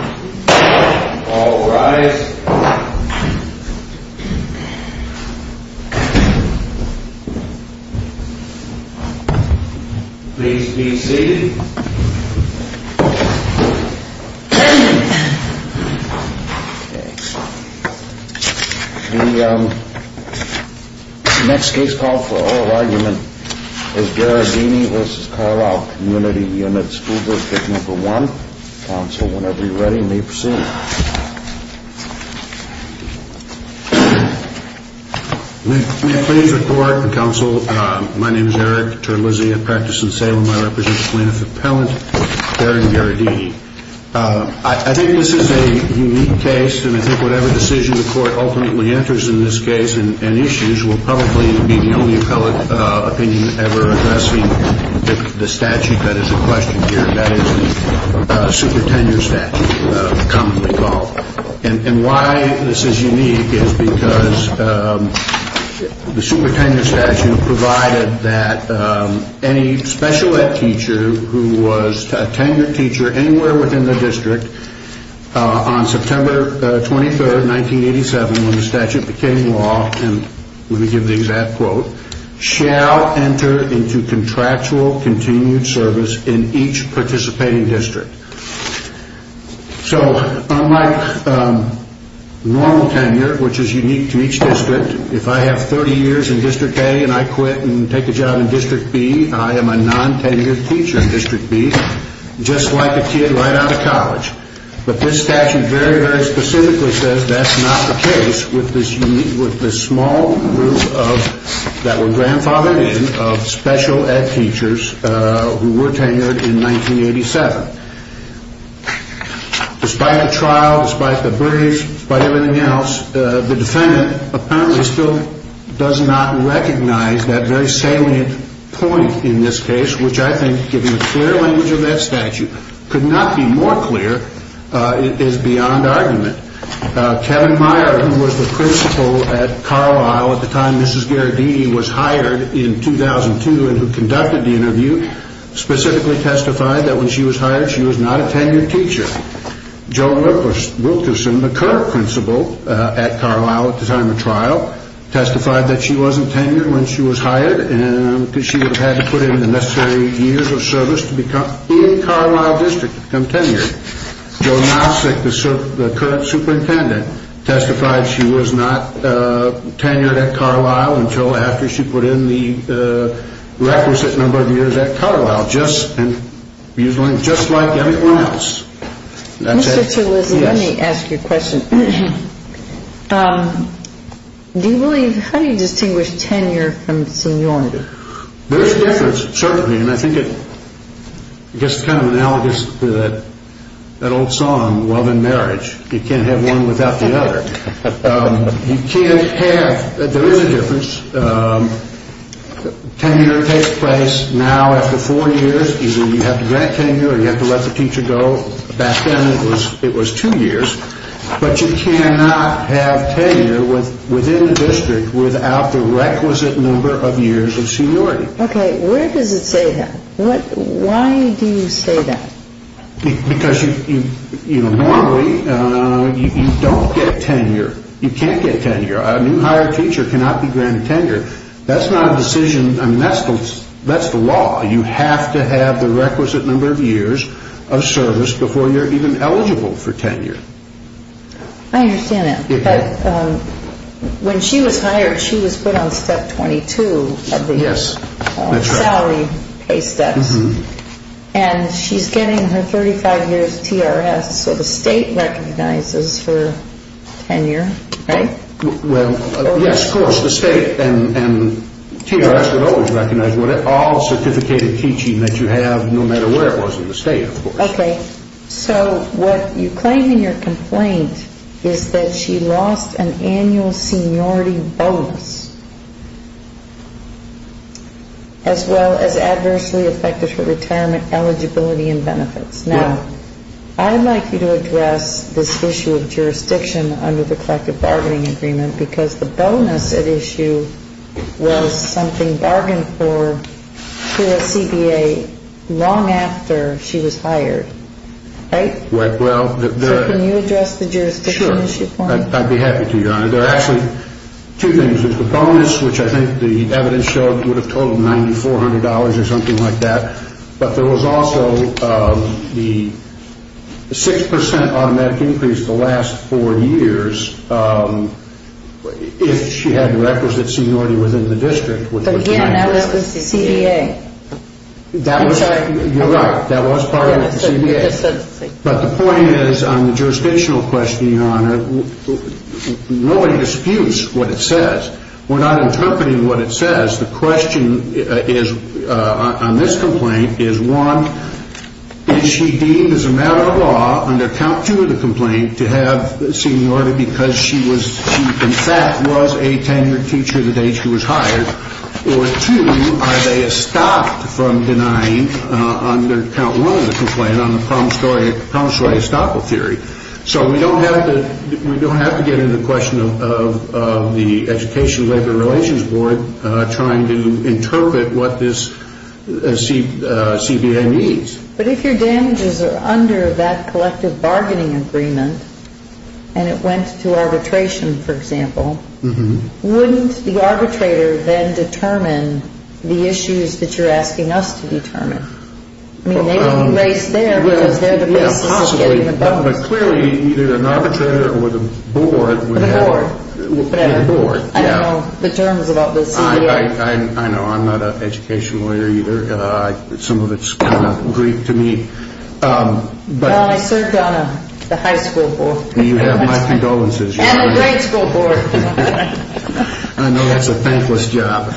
All rise. Please be seated. The next case called for oral argument is Gherardini v. Carlyle Community Unit School District 1. Counsel, whenever you're ready, may proceed. May I please report, Counsel, my name is Eric Terlizzi. I practice in Salem. I represent plaintiff appellant Darren Gherardini. I think this is a unique case, and I think whatever decision the court ultimately enters in this case and issues will probably be the only appellate opinion ever addressing the statute that is at question here. That is the supertenure statute commonly called. And why this is unique is because the supertenure statute provided that any special ed teacher who was a tenured teacher anywhere within the district on September 23, 1987, when the statute became law, and let me give the exact quote, shall enter into contractual continued service in each participating district. So unlike normal tenure, which is unique to each district, if I have 30 years in District A and I quit and take a job in District B, I am a non-tenured teacher in District B, just like a kid right out of college. But this statute very, very specifically says that's not the case with this small group that were grandfathered in of special ed teachers who were tenured in 1987. Despite the trial, despite the brief, despite everything else, the defendant apparently still does not recognize that very salient point in this case, which I think, given the clear language of that statute, could not be more clear is beyond argument. Kevin Meyer, who was the principal at Carlisle at the time Mrs. Garadini was hired in 2002 and who conducted the interview, specifically testified that when she was hired, she was not a tenured teacher. Joe Wilkerson, the current principal at Carlisle at the time of trial, testified that she wasn't tenured when she was hired because she would have had to put in the necessary years of service to become in Carlisle District to become tenured. Joe Nopcic, the current superintendent, testified she was not tenured at Carlisle until after she put in the requisite number of years at Carlisle, just like everyone else. Mr. Tulisi, let me ask you a question. How do you distinguish tenure from seniority? There's a difference, certainly, and I think it's kind of analogous to that old song, Love and Marriage. You can't have one without the other. You can't have, there is a difference. Tenure takes place now after four years. You have to grant tenure or you have to let the teacher go. Back then it was two years. But you cannot have tenure within the district without the requisite number of years of seniority. Okay, where does it say that? Why do you say that? Because normally you don't get tenure. You can't get tenure. A new hired teacher cannot be granted tenure. That's not a decision, that's the law. You have to have the requisite number of years of service before you're even eligible for tenure. I understand that. But when she was hired, she was put on step 22 of the salary pay steps. And she's getting her 35 years TRS, so the state recognizes her tenure, right? Well, yes, of course. The state and TRS would always recognize all certificated teaching that you have, no matter where it was in the state, of course. Okay, so what you claim in your complaint is that she lost an annual seniority bonus as well as adversely affected her retirement eligibility and benefits. Now, I'd like you to address this issue of jurisdiction under the collective bargaining agreement because the bonus at issue was something bargained for to a CBA long after she was hired, right? So can you address the jurisdiction issue for me? Sure, I'd be happy to, Your Honor. There are actually two things. There's the bonus, which I think the evidence showed would have totaled $9,400 or something like that. But there was also the 6% automatic increase the last four years if she had requisite seniority within the district. But again, that was the CBA. You're right, that was part of the CBA. But the point is on the jurisdictional question, Your Honor, nobody disputes what it says. We're not interpreting what it says. The question on this complaint is, one, is she deemed as a matter of law under count two of the complaint to have seniority because she in fact was a tenured teacher the day she was hired? Or two, are they stopped from denying under count one of the complaint on the promissory estoppel theory? So we don't have to get into the question of the Education Labor Relations Board trying to interpret what this CBA means. But if your damages are under that collective bargaining agreement and it went to arbitration, for example, wouldn't the arbitrator then determine the issues that you're asking us to determine? I mean, they would be raised there because they're the basis of getting the bonus. But clearly, either an arbitrator or the board would have... The board. The board, yeah. I don't know the terms about the CBA. I know. I'm not an education lawyer either. Some of it's kind of Greek to me. Well, I served on the high school board. You have my condolences. And the grade school board. I know that's a thankless job.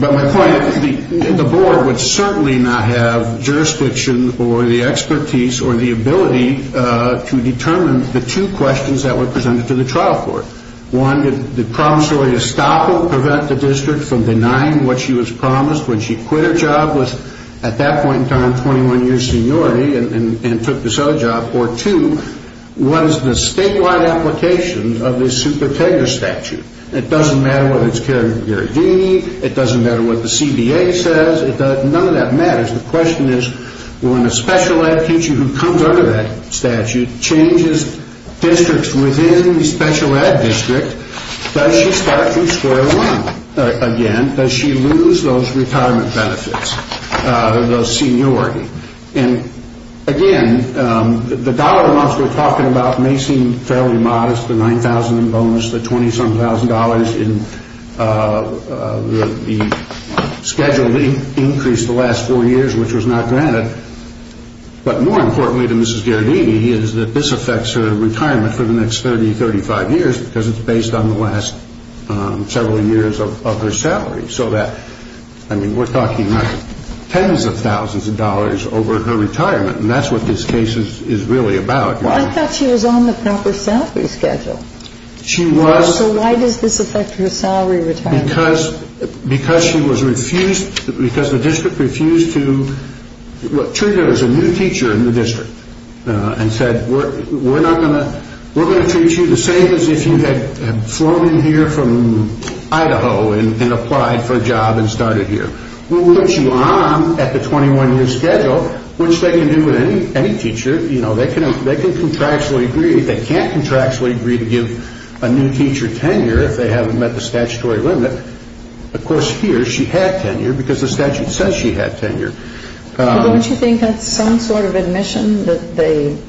But my point is the board would certainly not have jurisdiction or the expertise or the ability to determine the two questions that were presented to the trial court. One, did promissory estoppel prevent the district from denying what she was promised when she quit her job, was at that point in time 21 years seniority, and took this other job? Or two, what is the statewide application of this supertegra statute? It doesn't matter whether it's carried by Gary Deany. It doesn't matter what the CBA says. None of that matters. The question is when a special ed teacher who comes under that statute changes districts within the special ed district, does she start from square one again? Does she lose those retirement benefits, those seniority? And, again, the dollar amounts we're talking about may seem fairly modest, the 9,000 in bonus, the 20-some thousand dollars in the scheduled increase the last four years, which was not granted. But more importantly to Mrs. Gary Deany is that this affects her retirement for the next 30, 35 years because it's based on the last several years of her salary. So that, I mean, we're talking tens of thousands of dollars over her retirement, and that's what this case is really about. Well, I thought she was on the proper salary schedule. She was. So why does this affect her salary retirement? Because the district refused to treat her as a new teacher in the district and said, we're going to treat you the same as if you had flown in here from Idaho and applied for a job and started here. We'll put you on at the 21-year schedule, which they can do with any teacher. They can contractually agree. They can't contractually agree to give a new teacher tenure if they haven't met the statutory limit. Of course, here she had tenure because the statute says she had tenure. Don't you think that's some sort of admission that they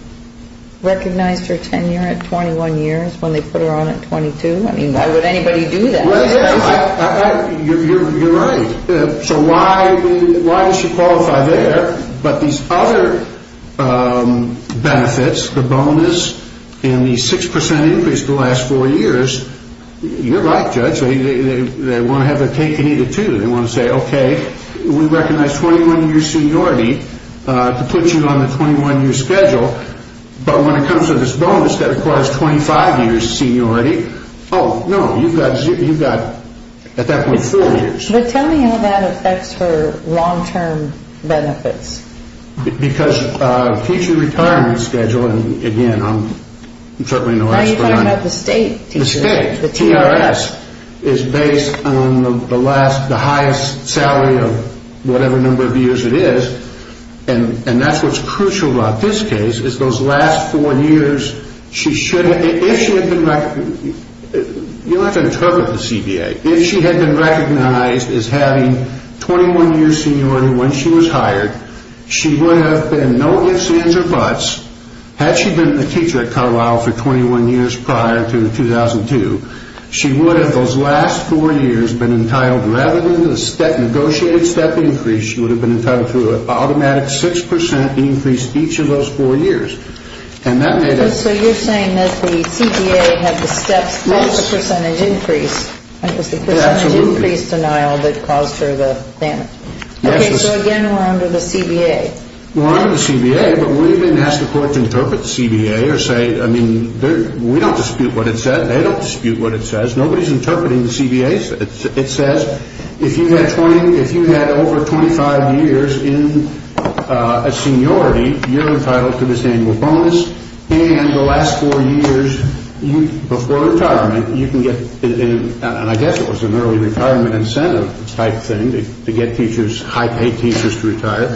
recognized her tenure at 21 years when they put her on at 22? I mean, why would anybody do that? You're right. So why does she qualify there? But these other benefits, the bonus and the 6% increase the last four years, you're right, Judge. They want to have her take any of the two. They want to say, okay, we recognize 21-year seniority to put you on the 21-year schedule. But when it comes to this bonus that requires 25-year seniority, oh, no, you've got at that point four years. But tell me how that affects her long-term benefits. Because teacher retirement schedule, and, again, I'm certainly no expert on it. No, you're talking about the state teacher. The state. The TRS. The TRS is based on the highest salary of whatever number of years it is. And that's what's crucial about this case is those last four years, she should have been recognized. You don't have to interpret the CBA. If she had been recognized as having 21-year seniority when she was hired, she would have been no ifs, ands, or buts. Had she been a teacher at Carlyle for 21 years prior to 2002, she would have, those last four years, been entitled, rather than the negotiated step increase, she would have been entitled to an automatic 6% increase each of those four years. So you're saying that the CBA had the steps plus the percentage increase. That was the percentage increase denial that caused her the damage. Okay, so, again, we're under the CBA. We're under the CBA, but we didn't ask the court to interpret the CBA or say, I mean, we don't dispute what it said. They don't dispute what it says. Nobody's interpreting the CBA. It says if you had over 25 years in seniority, you're entitled to this annual bonus, and the last four years before retirement, you can get, and I guess it was an early retirement incentive type thing to get teachers, high-paid teachers to retire,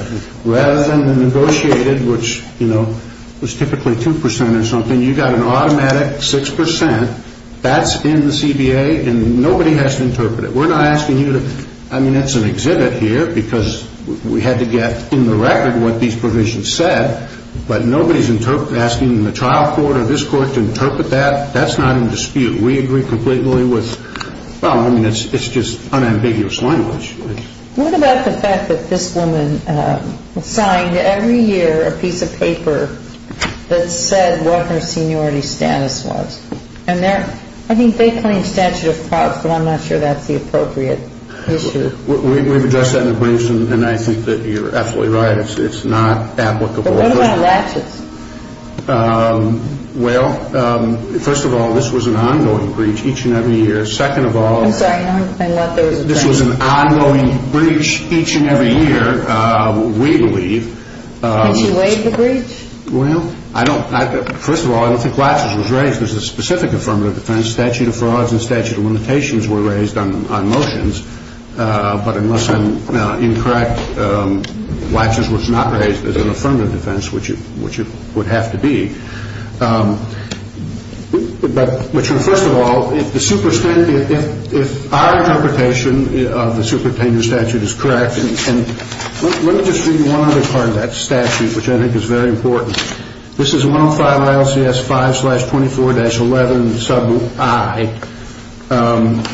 rather than the negotiated, which, you know, was typically 2% or something, you got an automatic 6%. That's in the CBA, and nobody has to interpret it. We're not asking you to, I mean, it's an exhibit here because we had to get in the record what these provisions said, but nobody's asking the trial court or this court to interpret that. That's not in dispute. We agree completely with, well, I mean, it's just unambiguous language. What about the fact that this woman signed every year a piece of paper that said what her seniority status was? And I think they claim statute of fraud, but I'm not sure that's the appropriate issue. We've addressed that in the briefs, and I think that you're absolutely right. It's not applicable. But what about latches? Well, first of all, this was an ongoing breach each and every year. Second of all, this was an ongoing breach. This was an ongoing breach each and every year, we believe. Did she raise the breach? Well, I don't, first of all, I don't think latches was raised as a specific affirmative defense. Statute of frauds and statute of limitations were raised on motions, but unless I'm incorrect, latches was not raised as an affirmative defense, which it would have to be. But first of all, if our interpretation of the supertenure statute is correct, and let me just read you one other part of that statute, which I think is very important. This is 105 ILCS 5-24-11 sub I,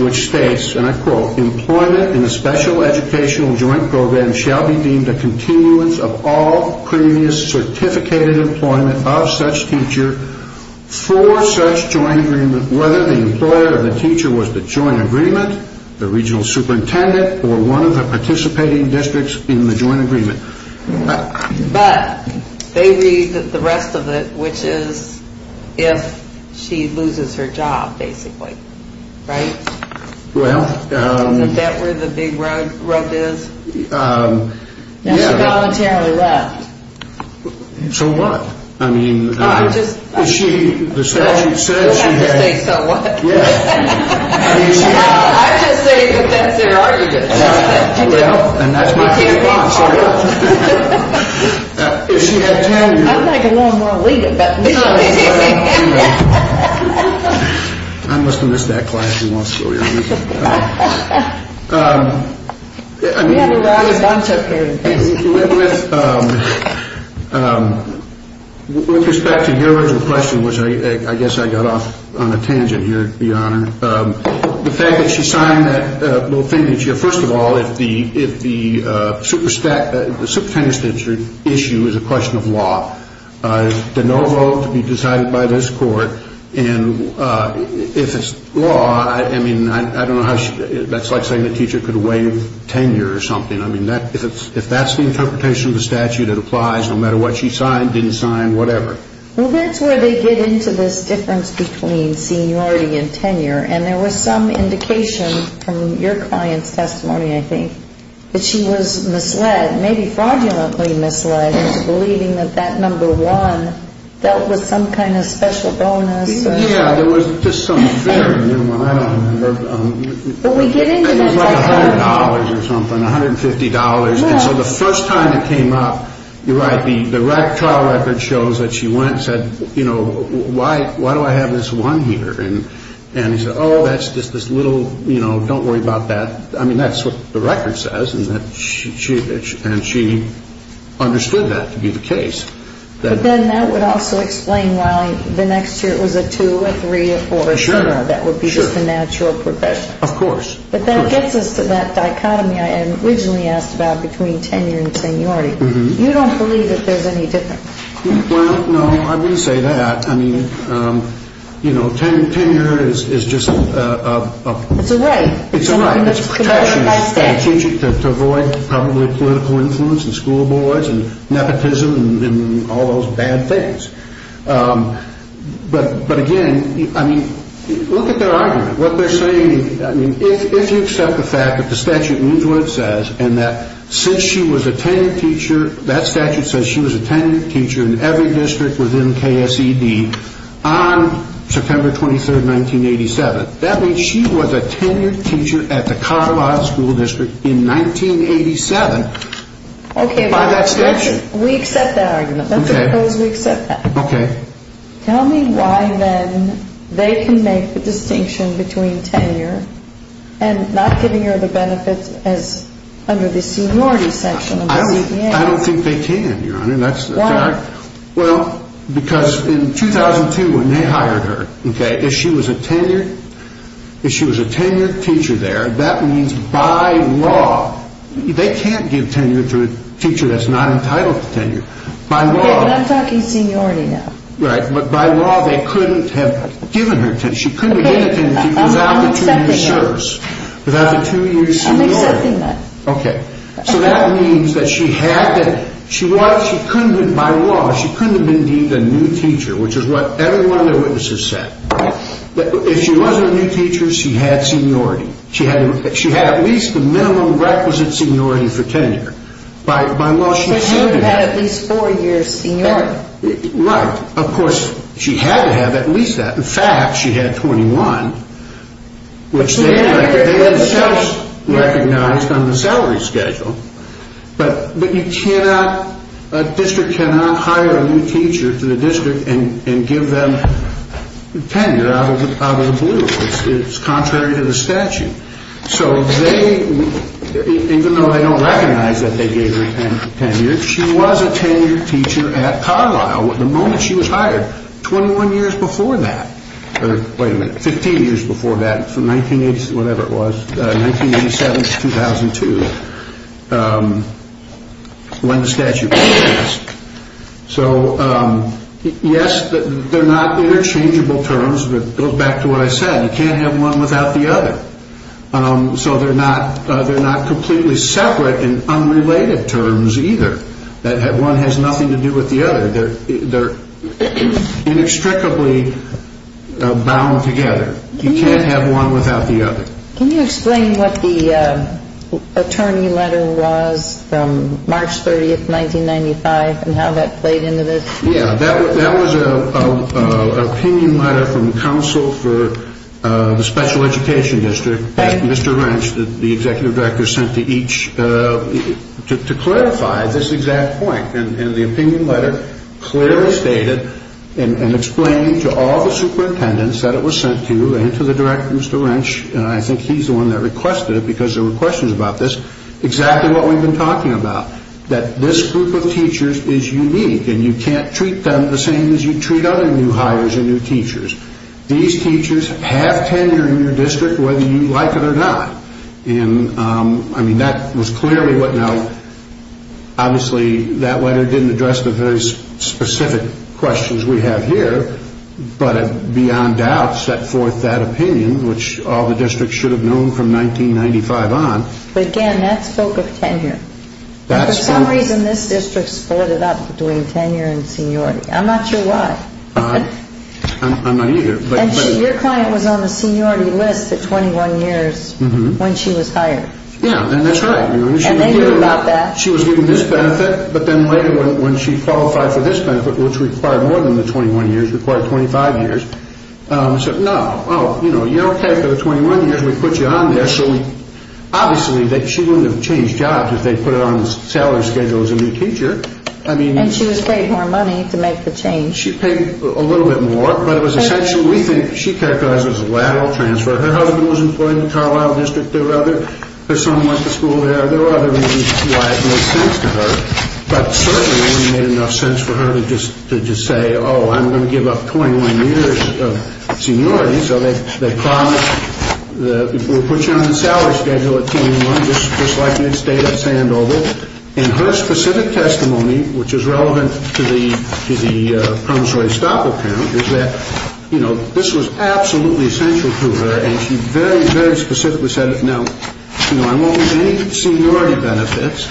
which states, and I quote, employment in a special educational joint program shall be deemed a continuance of all previous certificated employment of such teacher for such joint agreement, whether the employer of the teacher was the joint agreement, the regional superintendent, or one of the participating districts in the joint agreement. But they read the rest of it, which is if she loses her job, basically, right? Well. Isn't that where the big rug is? Yeah. And she voluntarily left. So what? I mean. I just. She, the statute says she had. I just think so what? Yeah. I just think that that's their argument. Well, and that's why she's gone, so what? She had tenure. I'd like a little more lead, but no. I must have missed that class. I mean, with respect to your question, which I guess I got off on a tangent here. The fact that she signed that little thing that you're first of all, if the if the super stack, the issue is a question of law, the no vote to be decided by this court. And if it's law, I mean, I don't know how that's like saying the teacher could wait tenure or something. I mean, if that's the interpretation of the statute, it applies no matter what she signed, didn't sign, whatever. Well, that's where they get into this difference between seniority and tenure. And there was some indication from your client's testimony, I think, that she was misled. Maybe fraudulently misled. Believing that that number one dealt with some kind of special bonus. Yeah, there was just some fear. I don't remember. But we get into that. It was like $100 or something, $150. And so the first time it came up, you're right, the trial record shows that she went and said, you know, why? Why do I have this one here? And he said, oh, that's just this little, you know, don't worry about that. I mean, that's what the record says. And she understood that to be the case. But then that would also explain why the next year it was a two, a three, a four. For sure. That would be just a natural progression. Of course. But that gets us to that dichotomy I originally asked about between tenure and seniority. You don't believe that there's any difference. Well, no, I wouldn't say that. I mean, you know, tenure is just a... It's a right. It's a right. It's a protection for a teacher to avoid probably political influence and school boards and nepotism and all those bad things. But again, I mean, look at their argument. What they're saying, I mean, if you accept the fact that the statute means what it says and that since she was a tenured teacher, that statute says she was a tenured teacher in every district within KSED on September 23rd, 1987, that means she was a tenured teacher at the Colorado School District in 1987. Okay. By that statute. We accept that argument. Okay. Let's suppose we accept that. Okay. Tell me why then they can make the distinction between tenure and not giving her the benefits as under the seniority section. I don't think they can, Your Honor. Why? Well, because in 2002 when they hired her, okay, if she was a tenured teacher there, that means by law they can't give tenure to a teacher that's not entitled to tenure. Okay, but I'm talking seniority now. Right. But by law they couldn't have given her tenure. She couldn't have been a tenured teacher without the two-year service, without the two-year seniority. I'm accepting that. Okay. So that means that she had to, she was, she couldn't have, by law she couldn't have been deemed a new teacher, which is what every one of their witnesses said. If she wasn't a new teacher, she had seniority. She had at least the minimum requisite seniority for tenure. By law she was seven years. So she would have had at least four years seniority. Right. Of course, she had to have at least that. In fact, she had 21, which they themselves recognized on the salary schedule, but you cannot, a district cannot hire a new teacher to the district and give them tenure out of the blue. It's contrary to the statute. So they, even though they don't recognize that they gave her tenure, she was a tenured teacher at Carlisle the moment she was hired, 21 years before that. Or, wait a minute, 15 years before that, from 1980, whatever it was, 1987 to 2002, when the statute passed. So, yes, they're not interchangeable terms. It goes back to what I said. You can't have one without the other. So they're not completely separate and unrelated terms either. One has nothing to do with the other. They're inextricably bound together. You can't have one without the other. Can you explain what the attorney letter was from March 30, 1995, and how that played into this? Yeah, that was an opinion letter from the council for the special education district, that Mr. Wrench, the executive director, sent to each to clarify this exact point. And the opinion letter clearly stated and explained to all the superintendents that it was sent to and to the director, Mr. Wrench, and I think he's the one that requested it because there were questions about this, exactly what we've been talking about, that this group of teachers is unique and you can't treat them the same as you treat other new hires or new teachers. These teachers have tenure in your district whether you like it or not. And, I mean, that was clearly what... Now, obviously, that letter didn't address the very specific questions we have here, but it beyond doubt set forth that opinion, which all the districts should have known from 1995 on. But, again, that spoke of tenure. That spoke... And for some reason, this district sported up doing tenure and seniority. I'm not sure why. I'm not either. And your client was on the seniority list at 21 years when she was hired. Yeah, and that's right. And they knew about that. She was given this benefit, but then later when she qualified for this benefit, which required more than the 21 years, required 25 years, said, no, you're okay for the 21 years, we put you on there. So, obviously, she wouldn't have changed jobs if they put her on the salary schedule as a new teacher. And she was paid more money to make the change. She paid a little bit more, but it was essentially, we think, she characterized it as a lateral transfer. Her husband was employed in the Carlyle District. There were other... Her son went to school there. There were other reasons why it made sense to her, but certainly it wouldn't have made enough sense for her to just say, oh, I'm going to give up 21 years of seniority. So they promised, we'll put you on the salary schedule at 21, just like you had stayed at Sandoval. And her specific testimony, which is relevant to the promissory stop account, is that, you know, this was absolutely essential to her, and she very, very specifically said, now, you know, I won't lose any seniority benefits,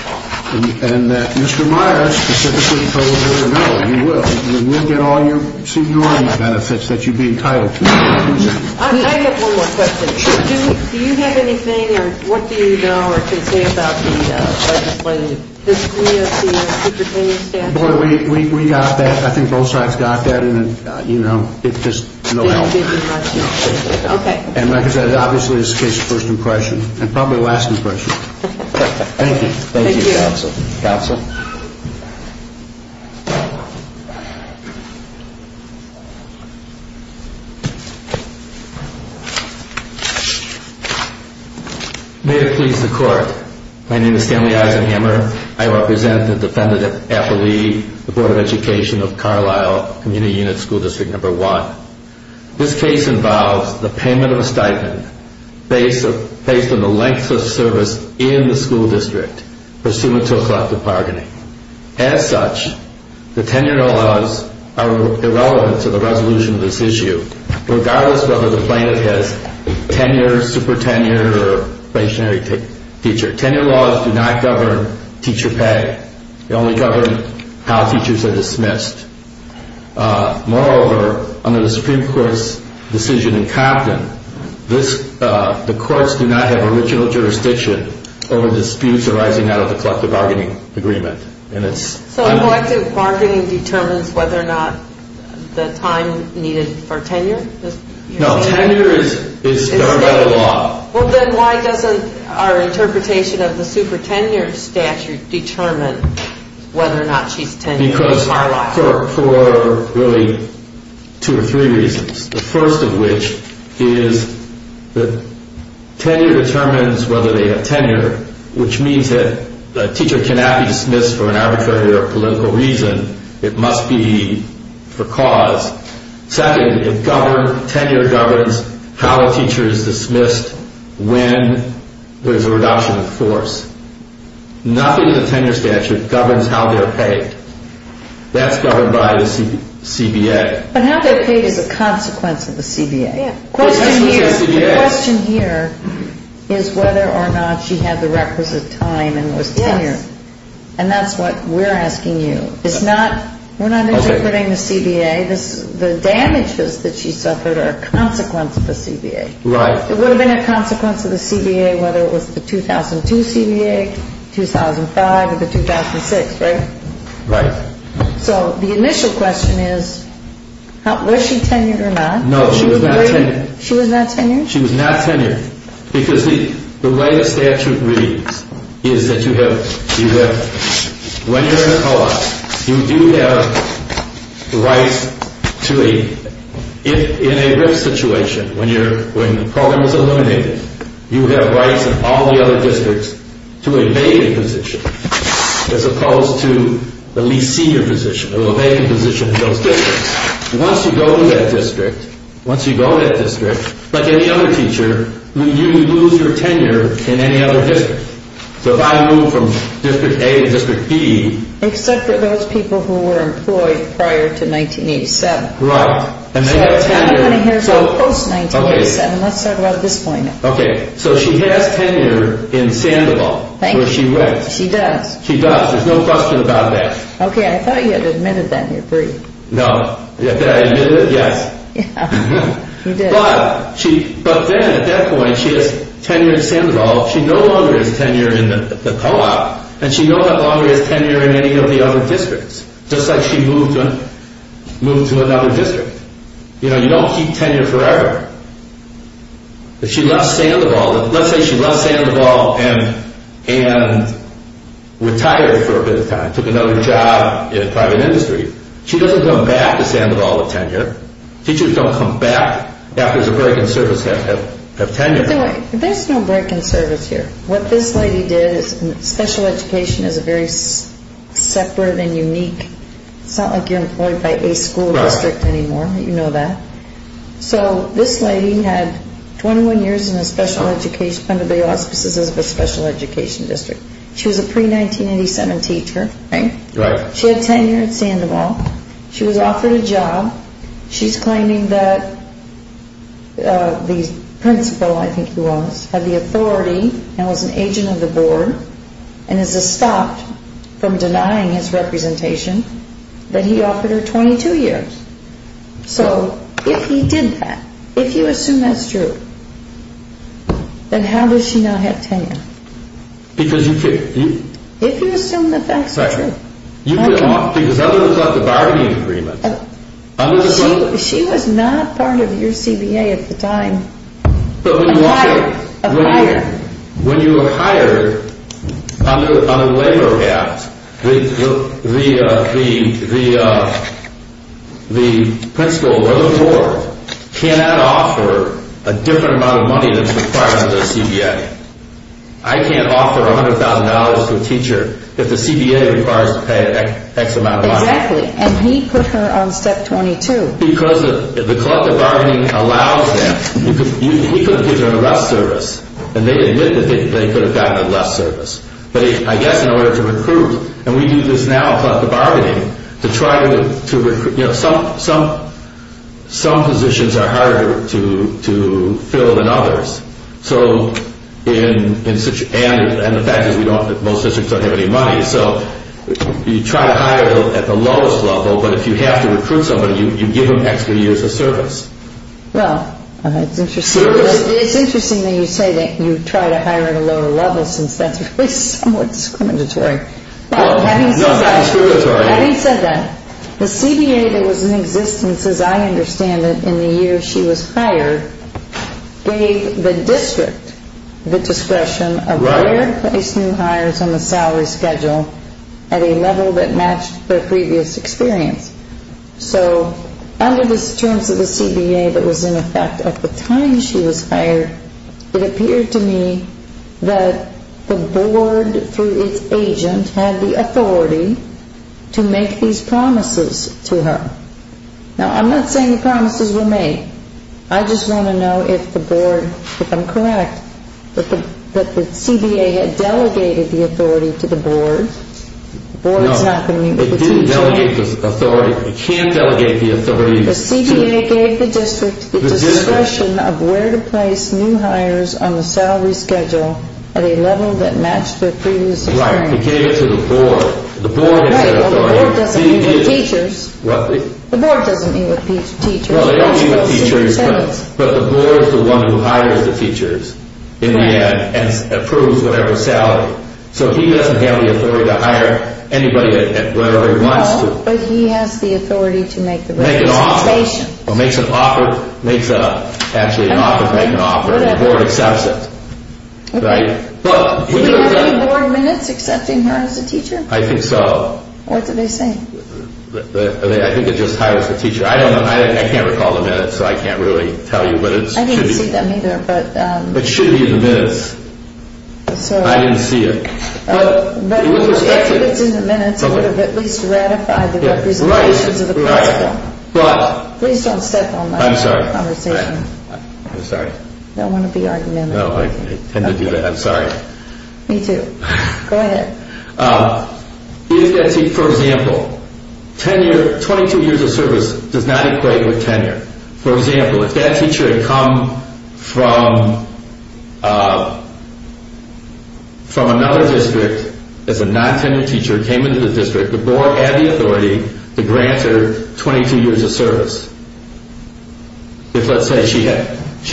and that Mr. Myers specifically told her, no, you will, you will get all your seniority benefits that you'd be entitled to. I have one more question. Do you have anything, or what do you know, or can you say about the legislative history of the superannuation statute? We got that. I think both sides got that, and, you know, it's just no help. Okay. And like I said, obviously, this is a case of first impression, and probably last impression. Thank you. Thank you, Counsel. Counsel? May it please the Court. My name is Stanley Eisenhammer. I represent the Defendant Affiliate, the Board of Education of Carlisle Community Unit School District No. 1. This case involves the payment of a stipend based on the length of service in the school district, pursuant to a collective bargaining. As such, the 10-year-old laws are irrelevant to the resolution of this issue, regardless whether the plaintiff has 10 years, super 10 years, or a stationary teacher. 10-year laws do not govern teacher pay. They only govern how teachers are dismissed. Moreover, under the Supreme Court's decision in Compton, the courts do not have original jurisdiction over disputes arising out of the collective bargaining agreement. So collective bargaining determines whether or not the time needed for tenure? No, tenure is governed by the law. Well, then why doesn't our interpretation of the super 10-year statute determine whether or not she's 10 years in Carlisle? Because for really two or three reasons. The first of which is that tenure determines whether they have tenure, which means that a teacher cannot be dismissed for an arbitrary or political reason. It must be for cause. Second, tenure governs how a teacher is dismissed when there's a reduction of force. Nothing in the tenure statute governs how they're paid. That's governed by the CBA. But how they're paid is a consequence of the CBA. The question here is whether or not she had the requisite time and was tenured. And that's what we're asking you. We're not interpreting the CBA. The damages that she suffered are a consequence of the CBA. It would have been a consequence of the CBA whether it was the 2002 CBA, 2005, or the 2006, right? Right. So the initial question is was she tenured or not? No, she was not tenured. She was not tenured? She was not tenured. Because the way the statute reads is that you have, when you're in a co-op, you do have rights to a, in a RIF situation, when the program is eliminated, you have rights in all the other districts to a vacant position as opposed to the least senior position, or a vacant position in those districts. Once you go to that district, once you go to that district, like any other teacher, you lose your tenure in any other district. So if I move from District A to District B... Except for those people who were employed prior to 1987. Right. So everybody here is post-1987. Let's talk about at this point. Okay. So she has tenure in Sandoval, where she works. She does. She does. There's no question about that. Okay. I thought you had admitted that in your brief. No. Did I admit it? Yes. You did. But then at that point, she has tenure in Sandoval. She no longer has tenure in the co-op, and she no longer has tenure in any of the other districts, just like she moved to another district. You know, you don't keep tenure forever. If she left Sandoval, let's say she left Sandoval and retired for a bit of time, took another job in a private industry, she doesn't come back to Sandoval with tenure. Teachers don't come back after there's a break in service of tenure. There's no break in service here. What this lady did is special education is a very separate and unique. It's not like you're employed by a school district anymore. Right. You know that. So this lady had 21 years under the auspices of a special education district. She was a pre-1987 teacher. Right. She had tenure at Sandoval. She was offered a job. She's claiming that the principal, I think he was, had the authority and was an agent of the board and is stopped from denying his representation that he offered her 22 years. So if he did that, if you assume that's true, then how does she now have tenure? Because you can't. If you assume that that's true. Right. Because otherwise, like the bargaining agreement. She was not part of your CBA at the time. But when you walk in. A hire. When you were hired on a labor raft, the principal or the board cannot offer a different amount of money than is required under the CBA. I can't offer $100,000 to a teacher if the CBA requires to pay X amount of money. Exactly. And he put her on step 22. Because the collective bargaining allows that. He could have given her less service. And they admit that they could have gotten her less service. But I guess in order to recruit, and we do this now in collective bargaining, some positions are harder to fill than others. And the fact is that most districts don't have any money. So you try to hire at the lowest level, but if you have to recruit somebody, you give them extra years of service. Well, it's interesting that you say that you try to hire at a lower level since that's really somewhat discriminatory. Having said that, the CBA that was in existence, as I understand it, in the year she was hired, gave the district the discretion of where to place new hires on the salary schedule at a level that matched their previous experience. So under the terms of the CBA that was in effect at the time she was hired, it appeared to me that the board, through its agent, had the authority to make these promises to her. Now, I'm not saying the promises were made. I just want to know if the board, if I'm correct, that the CBA had delegated the authority to the board. The board is not going to meet with the teacher. No, it didn't delegate the authority. It can't delegate the authority. The CBA gave the district the discretion of where to place new hires on the salary schedule at a level that matched their previous experience. Right. It gave it to the board. Right. Well, the board doesn't meet with teachers. What? The board doesn't meet with teachers. Well, they don't meet with teachers, but the board is the one who hires the teachers in the end and approves whatever salary. So he doesn't have the authority to hire anybody at whatever he wants to. But he has the authority to make the recommendation. Make an offer. Make an offer. Actually, an offer to make an offer. Whatever. The board accepts it. Okay. Right? Do we have any board minutes accepting her as a teacher? I think so. What did they say? I think it just hires the teacher. I don't know. I can't recall the minutes, so I can't really tell you. I didn't see them either. It should be in the minutes. I didn't see it. If it's in the minutes, it would have at least ratified the representations of the principle. Right. Please don't step on my conversation. I'm sorry. I'm sorry. I don't want to be argumentative. I tend to do that. I'm sorry. Me too. Go ahead. For example, 22 years of service does not equate with tenure. For example, if that teacher had come from another district as a non-tenured teacher, came into the district, the board had the authority to grant her 22 years of service. If, let's say, she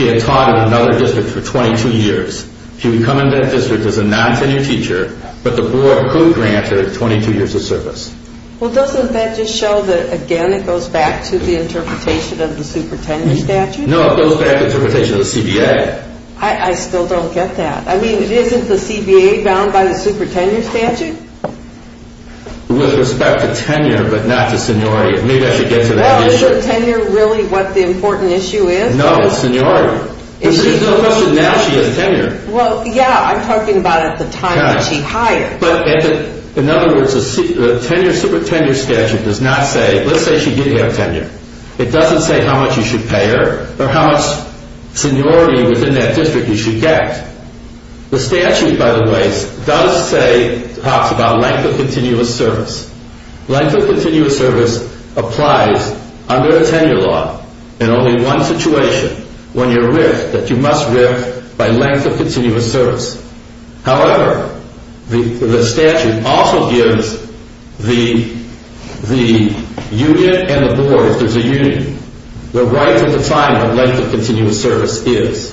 had taught in another district for 22 years, she would come into that district as a non-tenured teacher, but the board could grant her 22 years of service. Well, doesn't that just show that, again, it goes back to the interpretation of the supertenure statute? No, it goes back to the interpretation of the CBA. I still don't get that. I mean, isn't the CBA bound by the supertenure statute? With respect to tenure, but not to seniority, maybe I should get to that issue. Well, isn't tenure really what the important issue is? No, it's seniority. There's no question now she has tenure. Well, yeah, I'm talking about at the time that she hired. But in other words, the supertenure statute does not say, let's say she did have tenure, it doesn't say how much you should pay her or how much seniority within that district you should get. The statute, by the way, does say, talks about length of continuous service. Length of continuous service applies under the tenure law in only one situation, when you're ripped, that you must rip by length of continuous service. However, the statute also gives the union and the board, if there's a union, the right to define what length of continuous service is.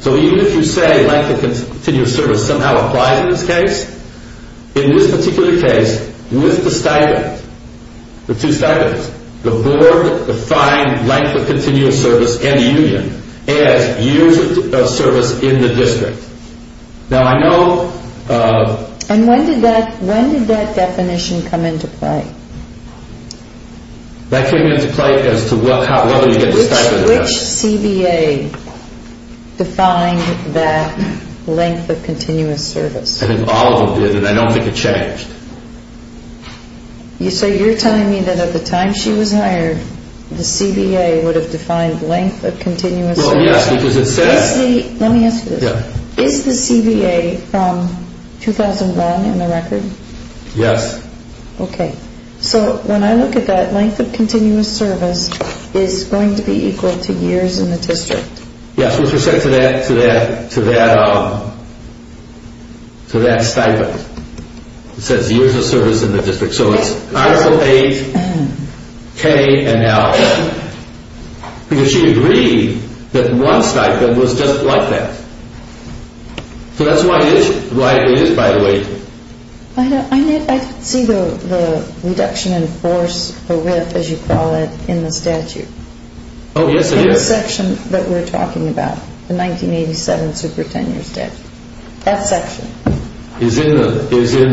So even if you say length of continuous service somehow applies in this case, in this particular case, with the stipend, the two stipends, the board defined length of continuous service and the union as years of service in the district. Now, I know... And when did that definition come into play? That came into play as to whether you get the stipend or not. Which CBA defined that length of continuous service? I think all of them did, and I don't think it changed. You say you're telling me that at the time she was hired, the CBA would have defined length of continuous service? Well, yes, because it says... Let me ask you this. Yeah. Is the CBA from 2001 in the record? Yes. Okay. So when I look at that, length of continuous service is going to be equal to years in the district? Yes, with respect to that stipend. It says years of service in the district. So it's I for age, K and L, because she agreed that one stipend was just like that. So that's why it is, by the way. I see the reduction in force or width, as you call it, in the statute. Oh, yes, I do. In the section that we're talking about, the 1987 super tenure statute. That section. Is in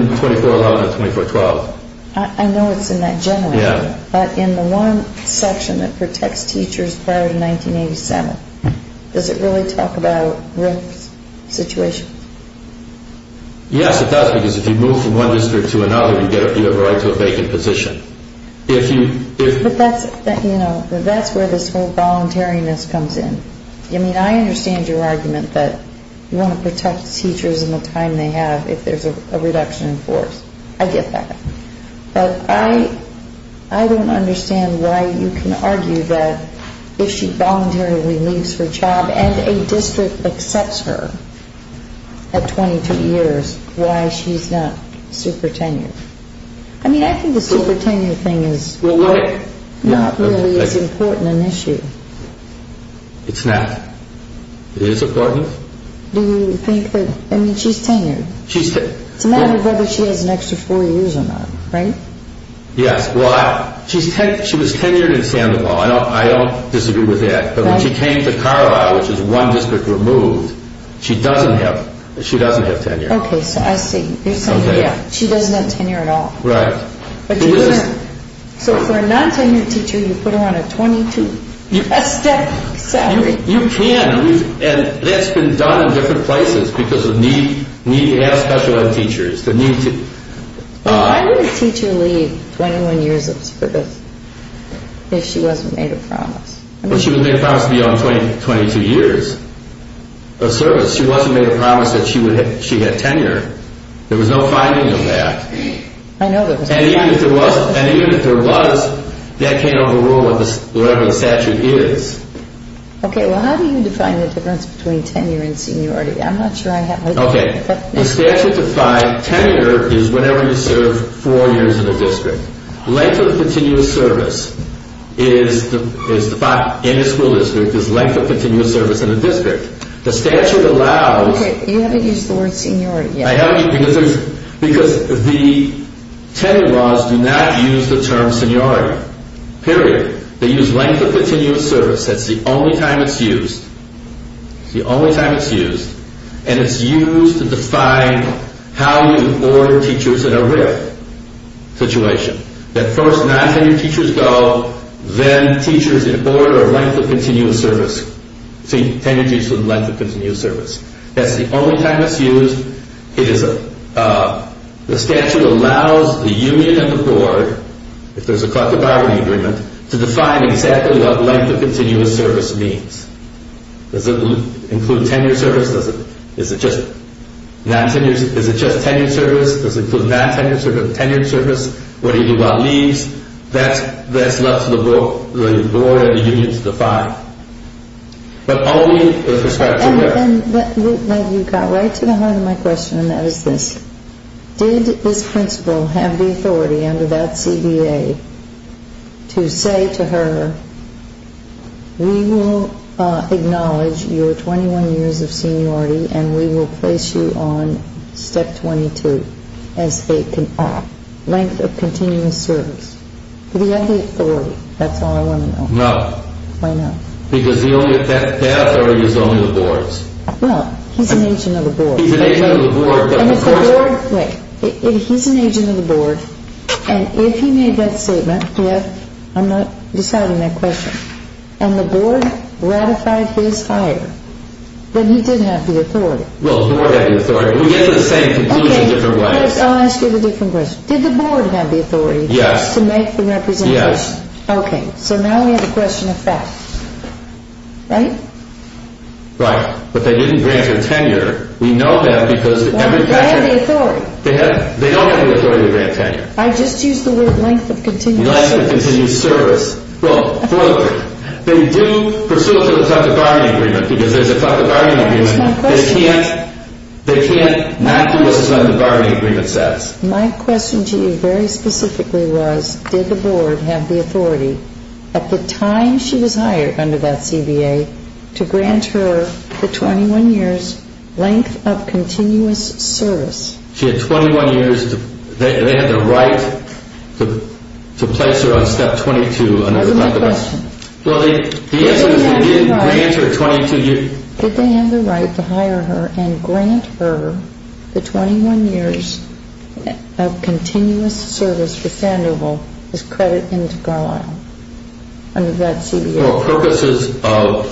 2411 and 2412. I know it's in that generally. Yeah. But in the one section that protects teachers prior to 1987, does it really talk about risk situations? Yes, it does, because if you move from one district to another, you have a right to a vacant position. But that's where this whole voluntariness comes in. I mean, I understand your argument that you want to protect teachers in the time they have if there's a reduction in force. I get that. But I don't understand why you can argue that if she voluntarily leaves her job and a district accepts her at 22 years, why she's not super tenure. I mean, I think the super tenure thing is not really as important an issue. It's not. It is important. Do you think that, I mean, she's tenured. She's tenured. It's a matter of whether she has an extra four years or not, right? Yes. Well, she was tenured in Sandoval. I don't disagree with that. But when she came to Carlisle, which is one district removed, she doesn't have tenure. Okay, so I see. You're saying, yeah, she doesn't have tenure at all. Right. So for a non-tenured teacher, you put her on a 22-step salary. You can. And that's been done in different places because of need to have special ed teachers. Why would a teacher leave 21 years of service if she wasn't made a promise? Well, she was made a promise to be on 22 years of service. She wasn't made a promise that she had tenure. There was no finding of that. I know there was not. And even if there was, that can't overrule whatever the statute is. Okay, well, how do you define the difference between tenure and seniority? I'm not sure I have it. Okay. The statute defined tenure is whenever you serve four years in a district. Length of continuous service is defined in a school district as length of continuous service in a district. The statute allows— Okay, you haven't used the word seniority yet. Because the tenure laws do not use the term seniority. Period. They use length of continuous service. That's the only time it's used. It's the only time it's used. And it's used to define how you order teachers in a RIF situation. That first non-tenured teachers go, then teachers in order of length of continuous service. Tenure teachers in length of continuous service. That's the only time it's used. The statute allows the union and the board, if there's a collective bargaining agreement, to define exactly what length of continuous service means. Does it include tenure service? Is it just tenure service? Does it include non-tenured service? Tenured service? What do you do about leaves? That's left for the board and the union to define. But only with respect to— And you got right to the heart of my question, and that is this. Did this principal have the authority under that CBA to say to her, we will acknowledge your 21 years of seniority, and we will place you on step 22 as a length of continuous service? Did he have the authority? That's all I want to know. No. Why not? Because the only authority is only the board's. Well, he's an agent of the board. He's an agent of the board, but— And if the board—wait. He's an agent of the board, and if he made that statement— Yes. I'm not deciding that question. And the board ratified his hire, then he did have the authority. Well, the board had the authority. We get to the same conclusion in different ways. Okay, I'll ask you the different question. Did the board have the authority— Yes. —to make the representation? Yes. Okay. So now we have a question of fact. Right? Right. But they didn't grant her tenure. We know that because— They have the authority. They don't have the authority to grant tenure. I just used the word length of continuous service. Length of continuous service. Well, further, they do pursue it to the top of the bargaining agreement because there's a top of the bargaining agreement. That's my question. They can't not do what's on the bargaining agreement says. My question to you very specifically was, did the board have the authority, at the time she was hired under that CBA, to grant her the 21 years length of continuous service? She had 21 years. They had the right to place her on step 22 under the— That was my question. Well, the answer is they did grant her 22 years. Did they have the right to hire her and grant her the 21 years of continuous service for Sandoval as credit into Garlisle under that CBA?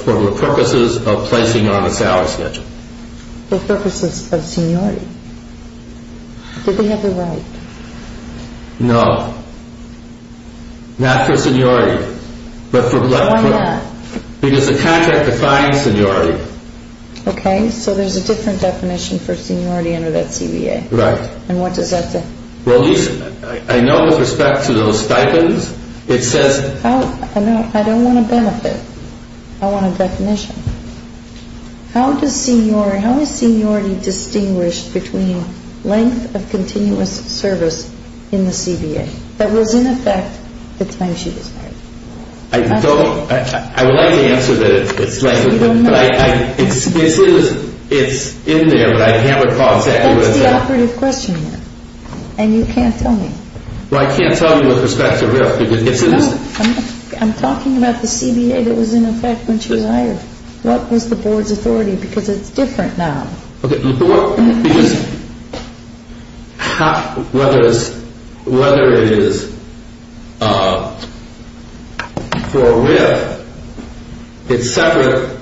For purposes of placing her on the salary schedule. For purposes of seniority. Did they have the right? No. Not for seniority. But for— Why not? Because the contract defines seniority. Okay. So there's a different definition for seniority under that CBA. Right. And what does that say? Well, I know with respect to those stipends, it says— I don't want to benefit. I want a definition. How is seniority distinguished between length of continuous service in the CBA? That was in effect the time she was hired. I don't—I would like to answer that. So you don't know. It's in there, but I can't recall exactly what it says. That's the operative question here. And you can't tell me. Well, I can't tell you with respect to RIF because it says— No. I'm talking about the CBA that was in effect when she was hired. What was the board's authority? Because it's different now. Okay. Because whether it is for RIF, it's separate.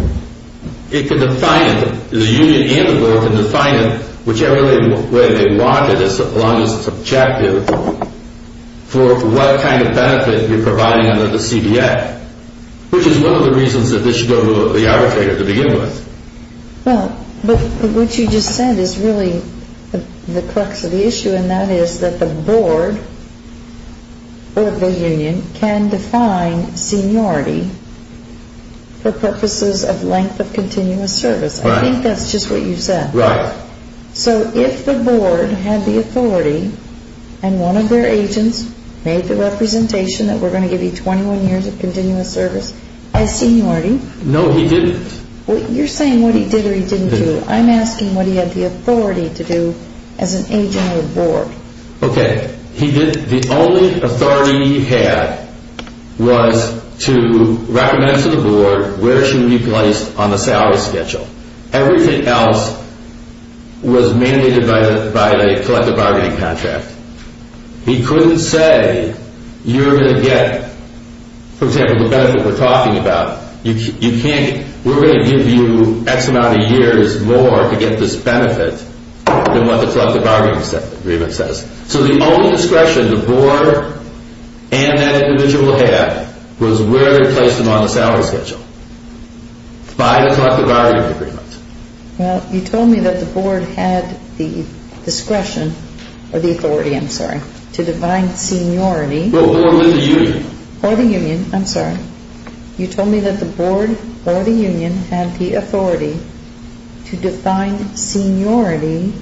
It can define it. The union and the board can define it, whichever way they want it as long as it's objective, for what kind of benefit you're providing under the CBA, which is one of the reasons that this should go to the arbitrator to begin with. Well, but what you just said is really the crux of the issue, and that is that the board or the union can define seniority for purposes of length of continuous service. Right. I think that's just what you said. Right. So if the board had the authority and one of their agents made the representation that we're going to give you 21 years of continuous service as seniority— No, he didn't. You're saying what he did or he didn't do. I'm asking what he had the authority to do as an agent or board. Okay. The only authority he had was to recommend to the board where she would be placed on the salary schedule. Everything else was mandated by the collective bargaining contract. He couldn't say you're going to get, for example, the benefit we're talking about. We're going to give you X amount of years more to get this benefit than what the collective bargaining agreement says. So the only discretion the board and that individual had was where they placed them on the salary schedule, by the collective bargaining agreement. Well, you told me that the board had the discretion or the authority, I'm sorry, to define seniority— Well, or the union. Or the union, I'm sorry. You told me that the board or the union had the authority to define seniority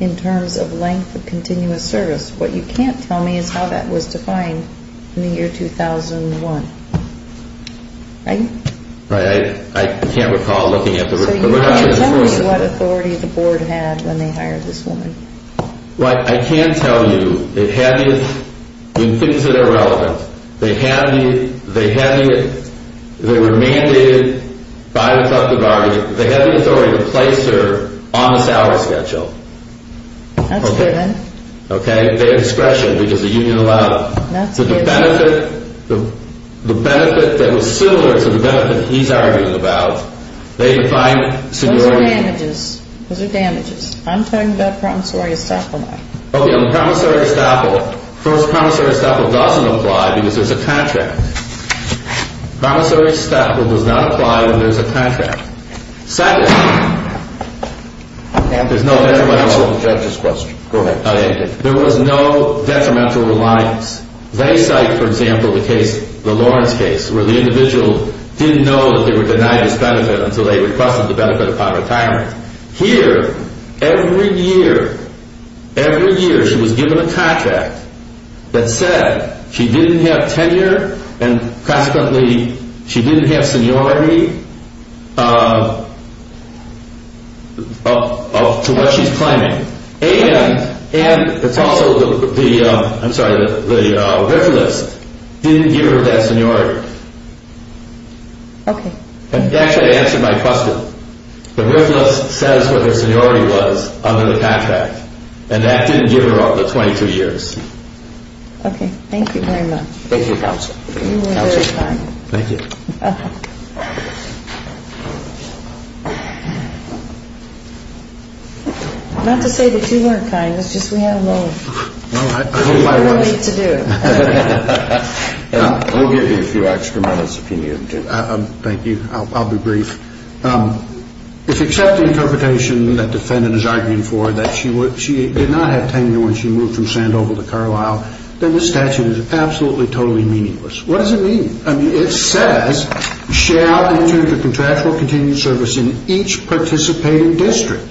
in terms of length of continuous service. What you can't tell me is how that was defined in the year 2001, right? Right. I can't recall looking at the— So you can't tell me what authority the board had when they hired this woman. Well, I can tell you they had it in things that are relevant. They were mandated by the collective bargaining—they had the authority to place her on the salary schedule. That's given. Okay? They had discretion because the union allowed it. That's given. So the benefit that was similar to the benefit he's arguing about, they defined seniority— Those are damages. Those are damages. I'm talking about promissory estoppel now. Okay. On the promissory estoppel, first, promissory estoppel doesn't apply because there's a contract. Promissory estoppel does not apply when there's a contract. Second, there's no— I can't— There's no detrimental— Go ahead. There was no detrimental reliance. They cite, for example, the case, the Lawrence case, where the individual didn't know that they were denied this benefit until they requested the benefit upon retirement. Here, every year, every year she was given a contract that said she didn't have tenure and consequently she didn't have seniority to what she's claiming. And it's also the—I'm sorry, the riffle list didn't give her that seniority. Okay. It actually answered my question. The riffle list says what her seniority was under the PAT Act, and that didn't give her all the 22 years. Okay. Thank you very much. Thank you, counsel. You were very kind. Thank you. Not to say that you weren't kind. It's just we had a moment. Well, I hope I was. We have more work to do. I'll give you a few extra minutes if you need to. Thank you. I'll be brief. If, except the interpretation that defendant is arguing for, that she did not have tenure when she moved from Sandoval to Carlisle, then the statute is absolutely, totally meaningless. What does it mean? I mean, it says, shall, in turn, the contractual continue service in each participating district.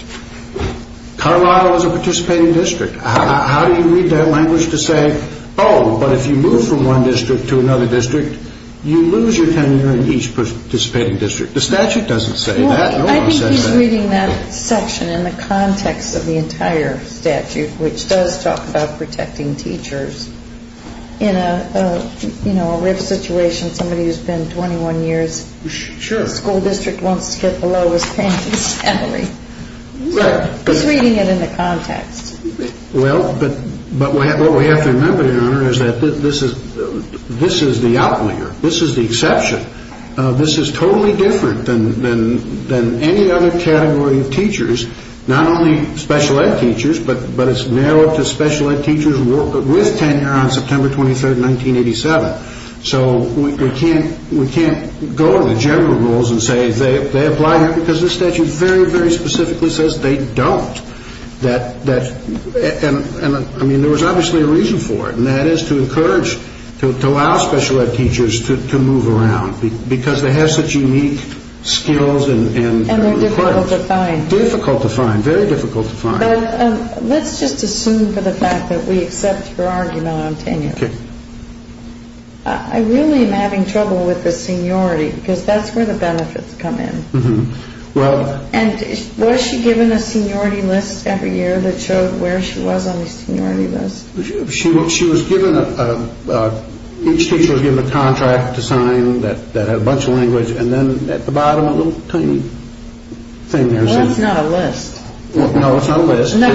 Carlisle is a participating district. How do you read that language to say, oh, but if you move from one district to another district, you lose your tenure in each participating district? The statute doesn't say that. I think he's reading that section in the context of the entire statute, which does talk about protecting teachers. In a, you know, a riffle situation, somebody who's been 21 years, the school district wants to get the lowest paying family. Right. He's reading it in the context. Well, but what we have to remember, Your Honor, is that this is the outlier. This is the exception. This is totally different than any other category of teachers, not only special ed teachers, but it's narrowed to special ed teachers with tenure on September 23rd, 1987. So we can't go to the general rules and say they apply here because the statute very, very specifically says they don't. And I mean, there was obviously a reason for it, and that is to encourage, to allow special ed teachers to move around because they have such unique skills. And they're difficult to find. Difficult to find. Very difficult to find. Let's just assume for the fact that we accept your argument on tenure. I really am having trouble with the seniority because that's where the benefits come in. And was she given a seniority list every year that showed where she was on the seniority list? She was given a, each teacher was given a contract to sign that had a bunch of language, and then at the bottom, a little tiny thing. Well, that's not a list. No, it's not a list. I know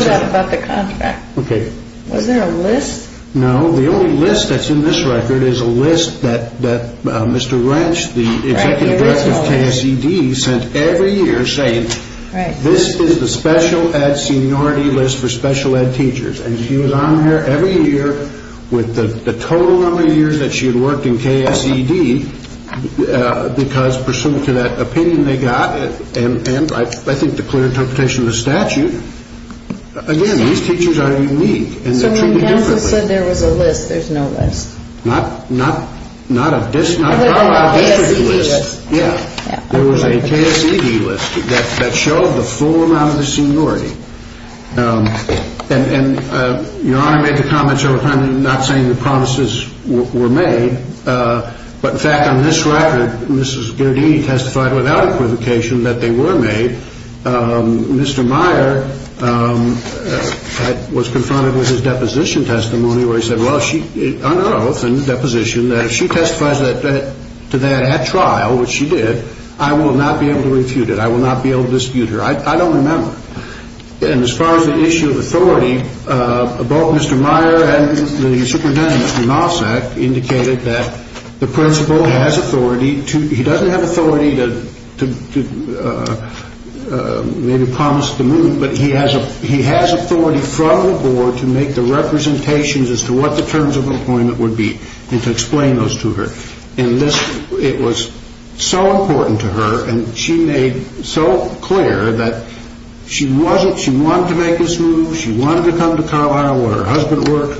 that about the contract. Okay. Was there a list? No. The only list that's in this record is a list that Mr. Wrench, the executive director of KSED, sent every year saying this is the special ed seniority list for special ed teachers. And she was on there every year with the total number of years that she had worked in KSED because pursuant to that opinion they got, and I think the clear interpretation of the statute, again, these teachers are unique. So when counsel said there was a list, there's no list. There was a KSED list. Yeah. There was a KSED list that showed the full amount of the seniority. And Your Honor made the comments over time not saying the promises were made, but, in fact, on this record, Mrs. Giardini testified without equivocation that they were made. Mr. Meyer was confronted with his deposition testimony where he said, well, under oath and deposition, that if she testifies to that at trial, which she did, I will not be able to refute it. I will not be able to dispute her. I don't remember. And as far as the issue of authority, both Mr. Meyer and the superintendent, Mr. Nossack, indicated that the principal has authority. He doesn't have authority to maybe promise to move, but he has authority from the board to make the representations as to what the terms of appointment would be and to explain those to her. And it was so important to her, and she made so clear that she wanted to make this move. She wanted to come to Carlisle where her husband worked,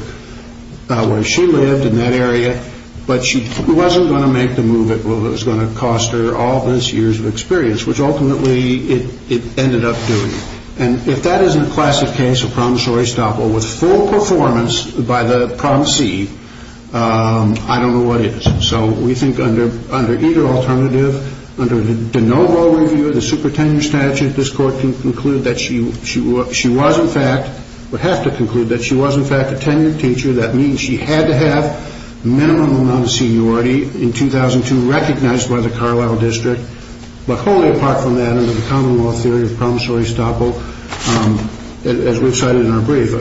where she lived in that area, but she wasn't going to make the move that was going to cost her all those years of experience, which ultimately it ended up doing. And if that isn't a classic case of promissory stoppel with full performance by the promisee, I don't know what is. So we think under either alternative, under the de novo review of the supertenure statute, this court can conclude that she was in fact, would have to conclude that she was in fact a tenured teacher. That means she had to have minimum amount of seniority in 2002 recognized by the Carlisle district, but wholly apart from that under the common law theory of promissory stoppel, as we've cited in our brief.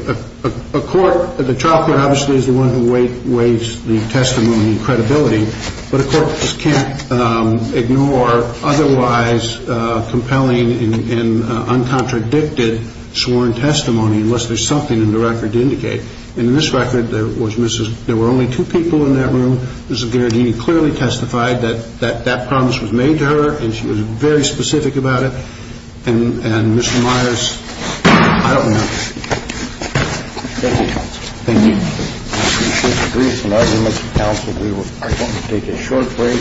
A court, the trial court obviously is the one who weighs the testimony and credibility, but a court can't ignore otherwise compelling and uncontradicted sworn testimony unless there's something in the record to indicate. And in this record, there was Mrs. There were only two people in that room. Mrs. Garagini clearly testified that that that promise was made to her and she was very specific about it. And Mr. Myers, I don't know. Thank you. We will take a short break. Next, please. All right.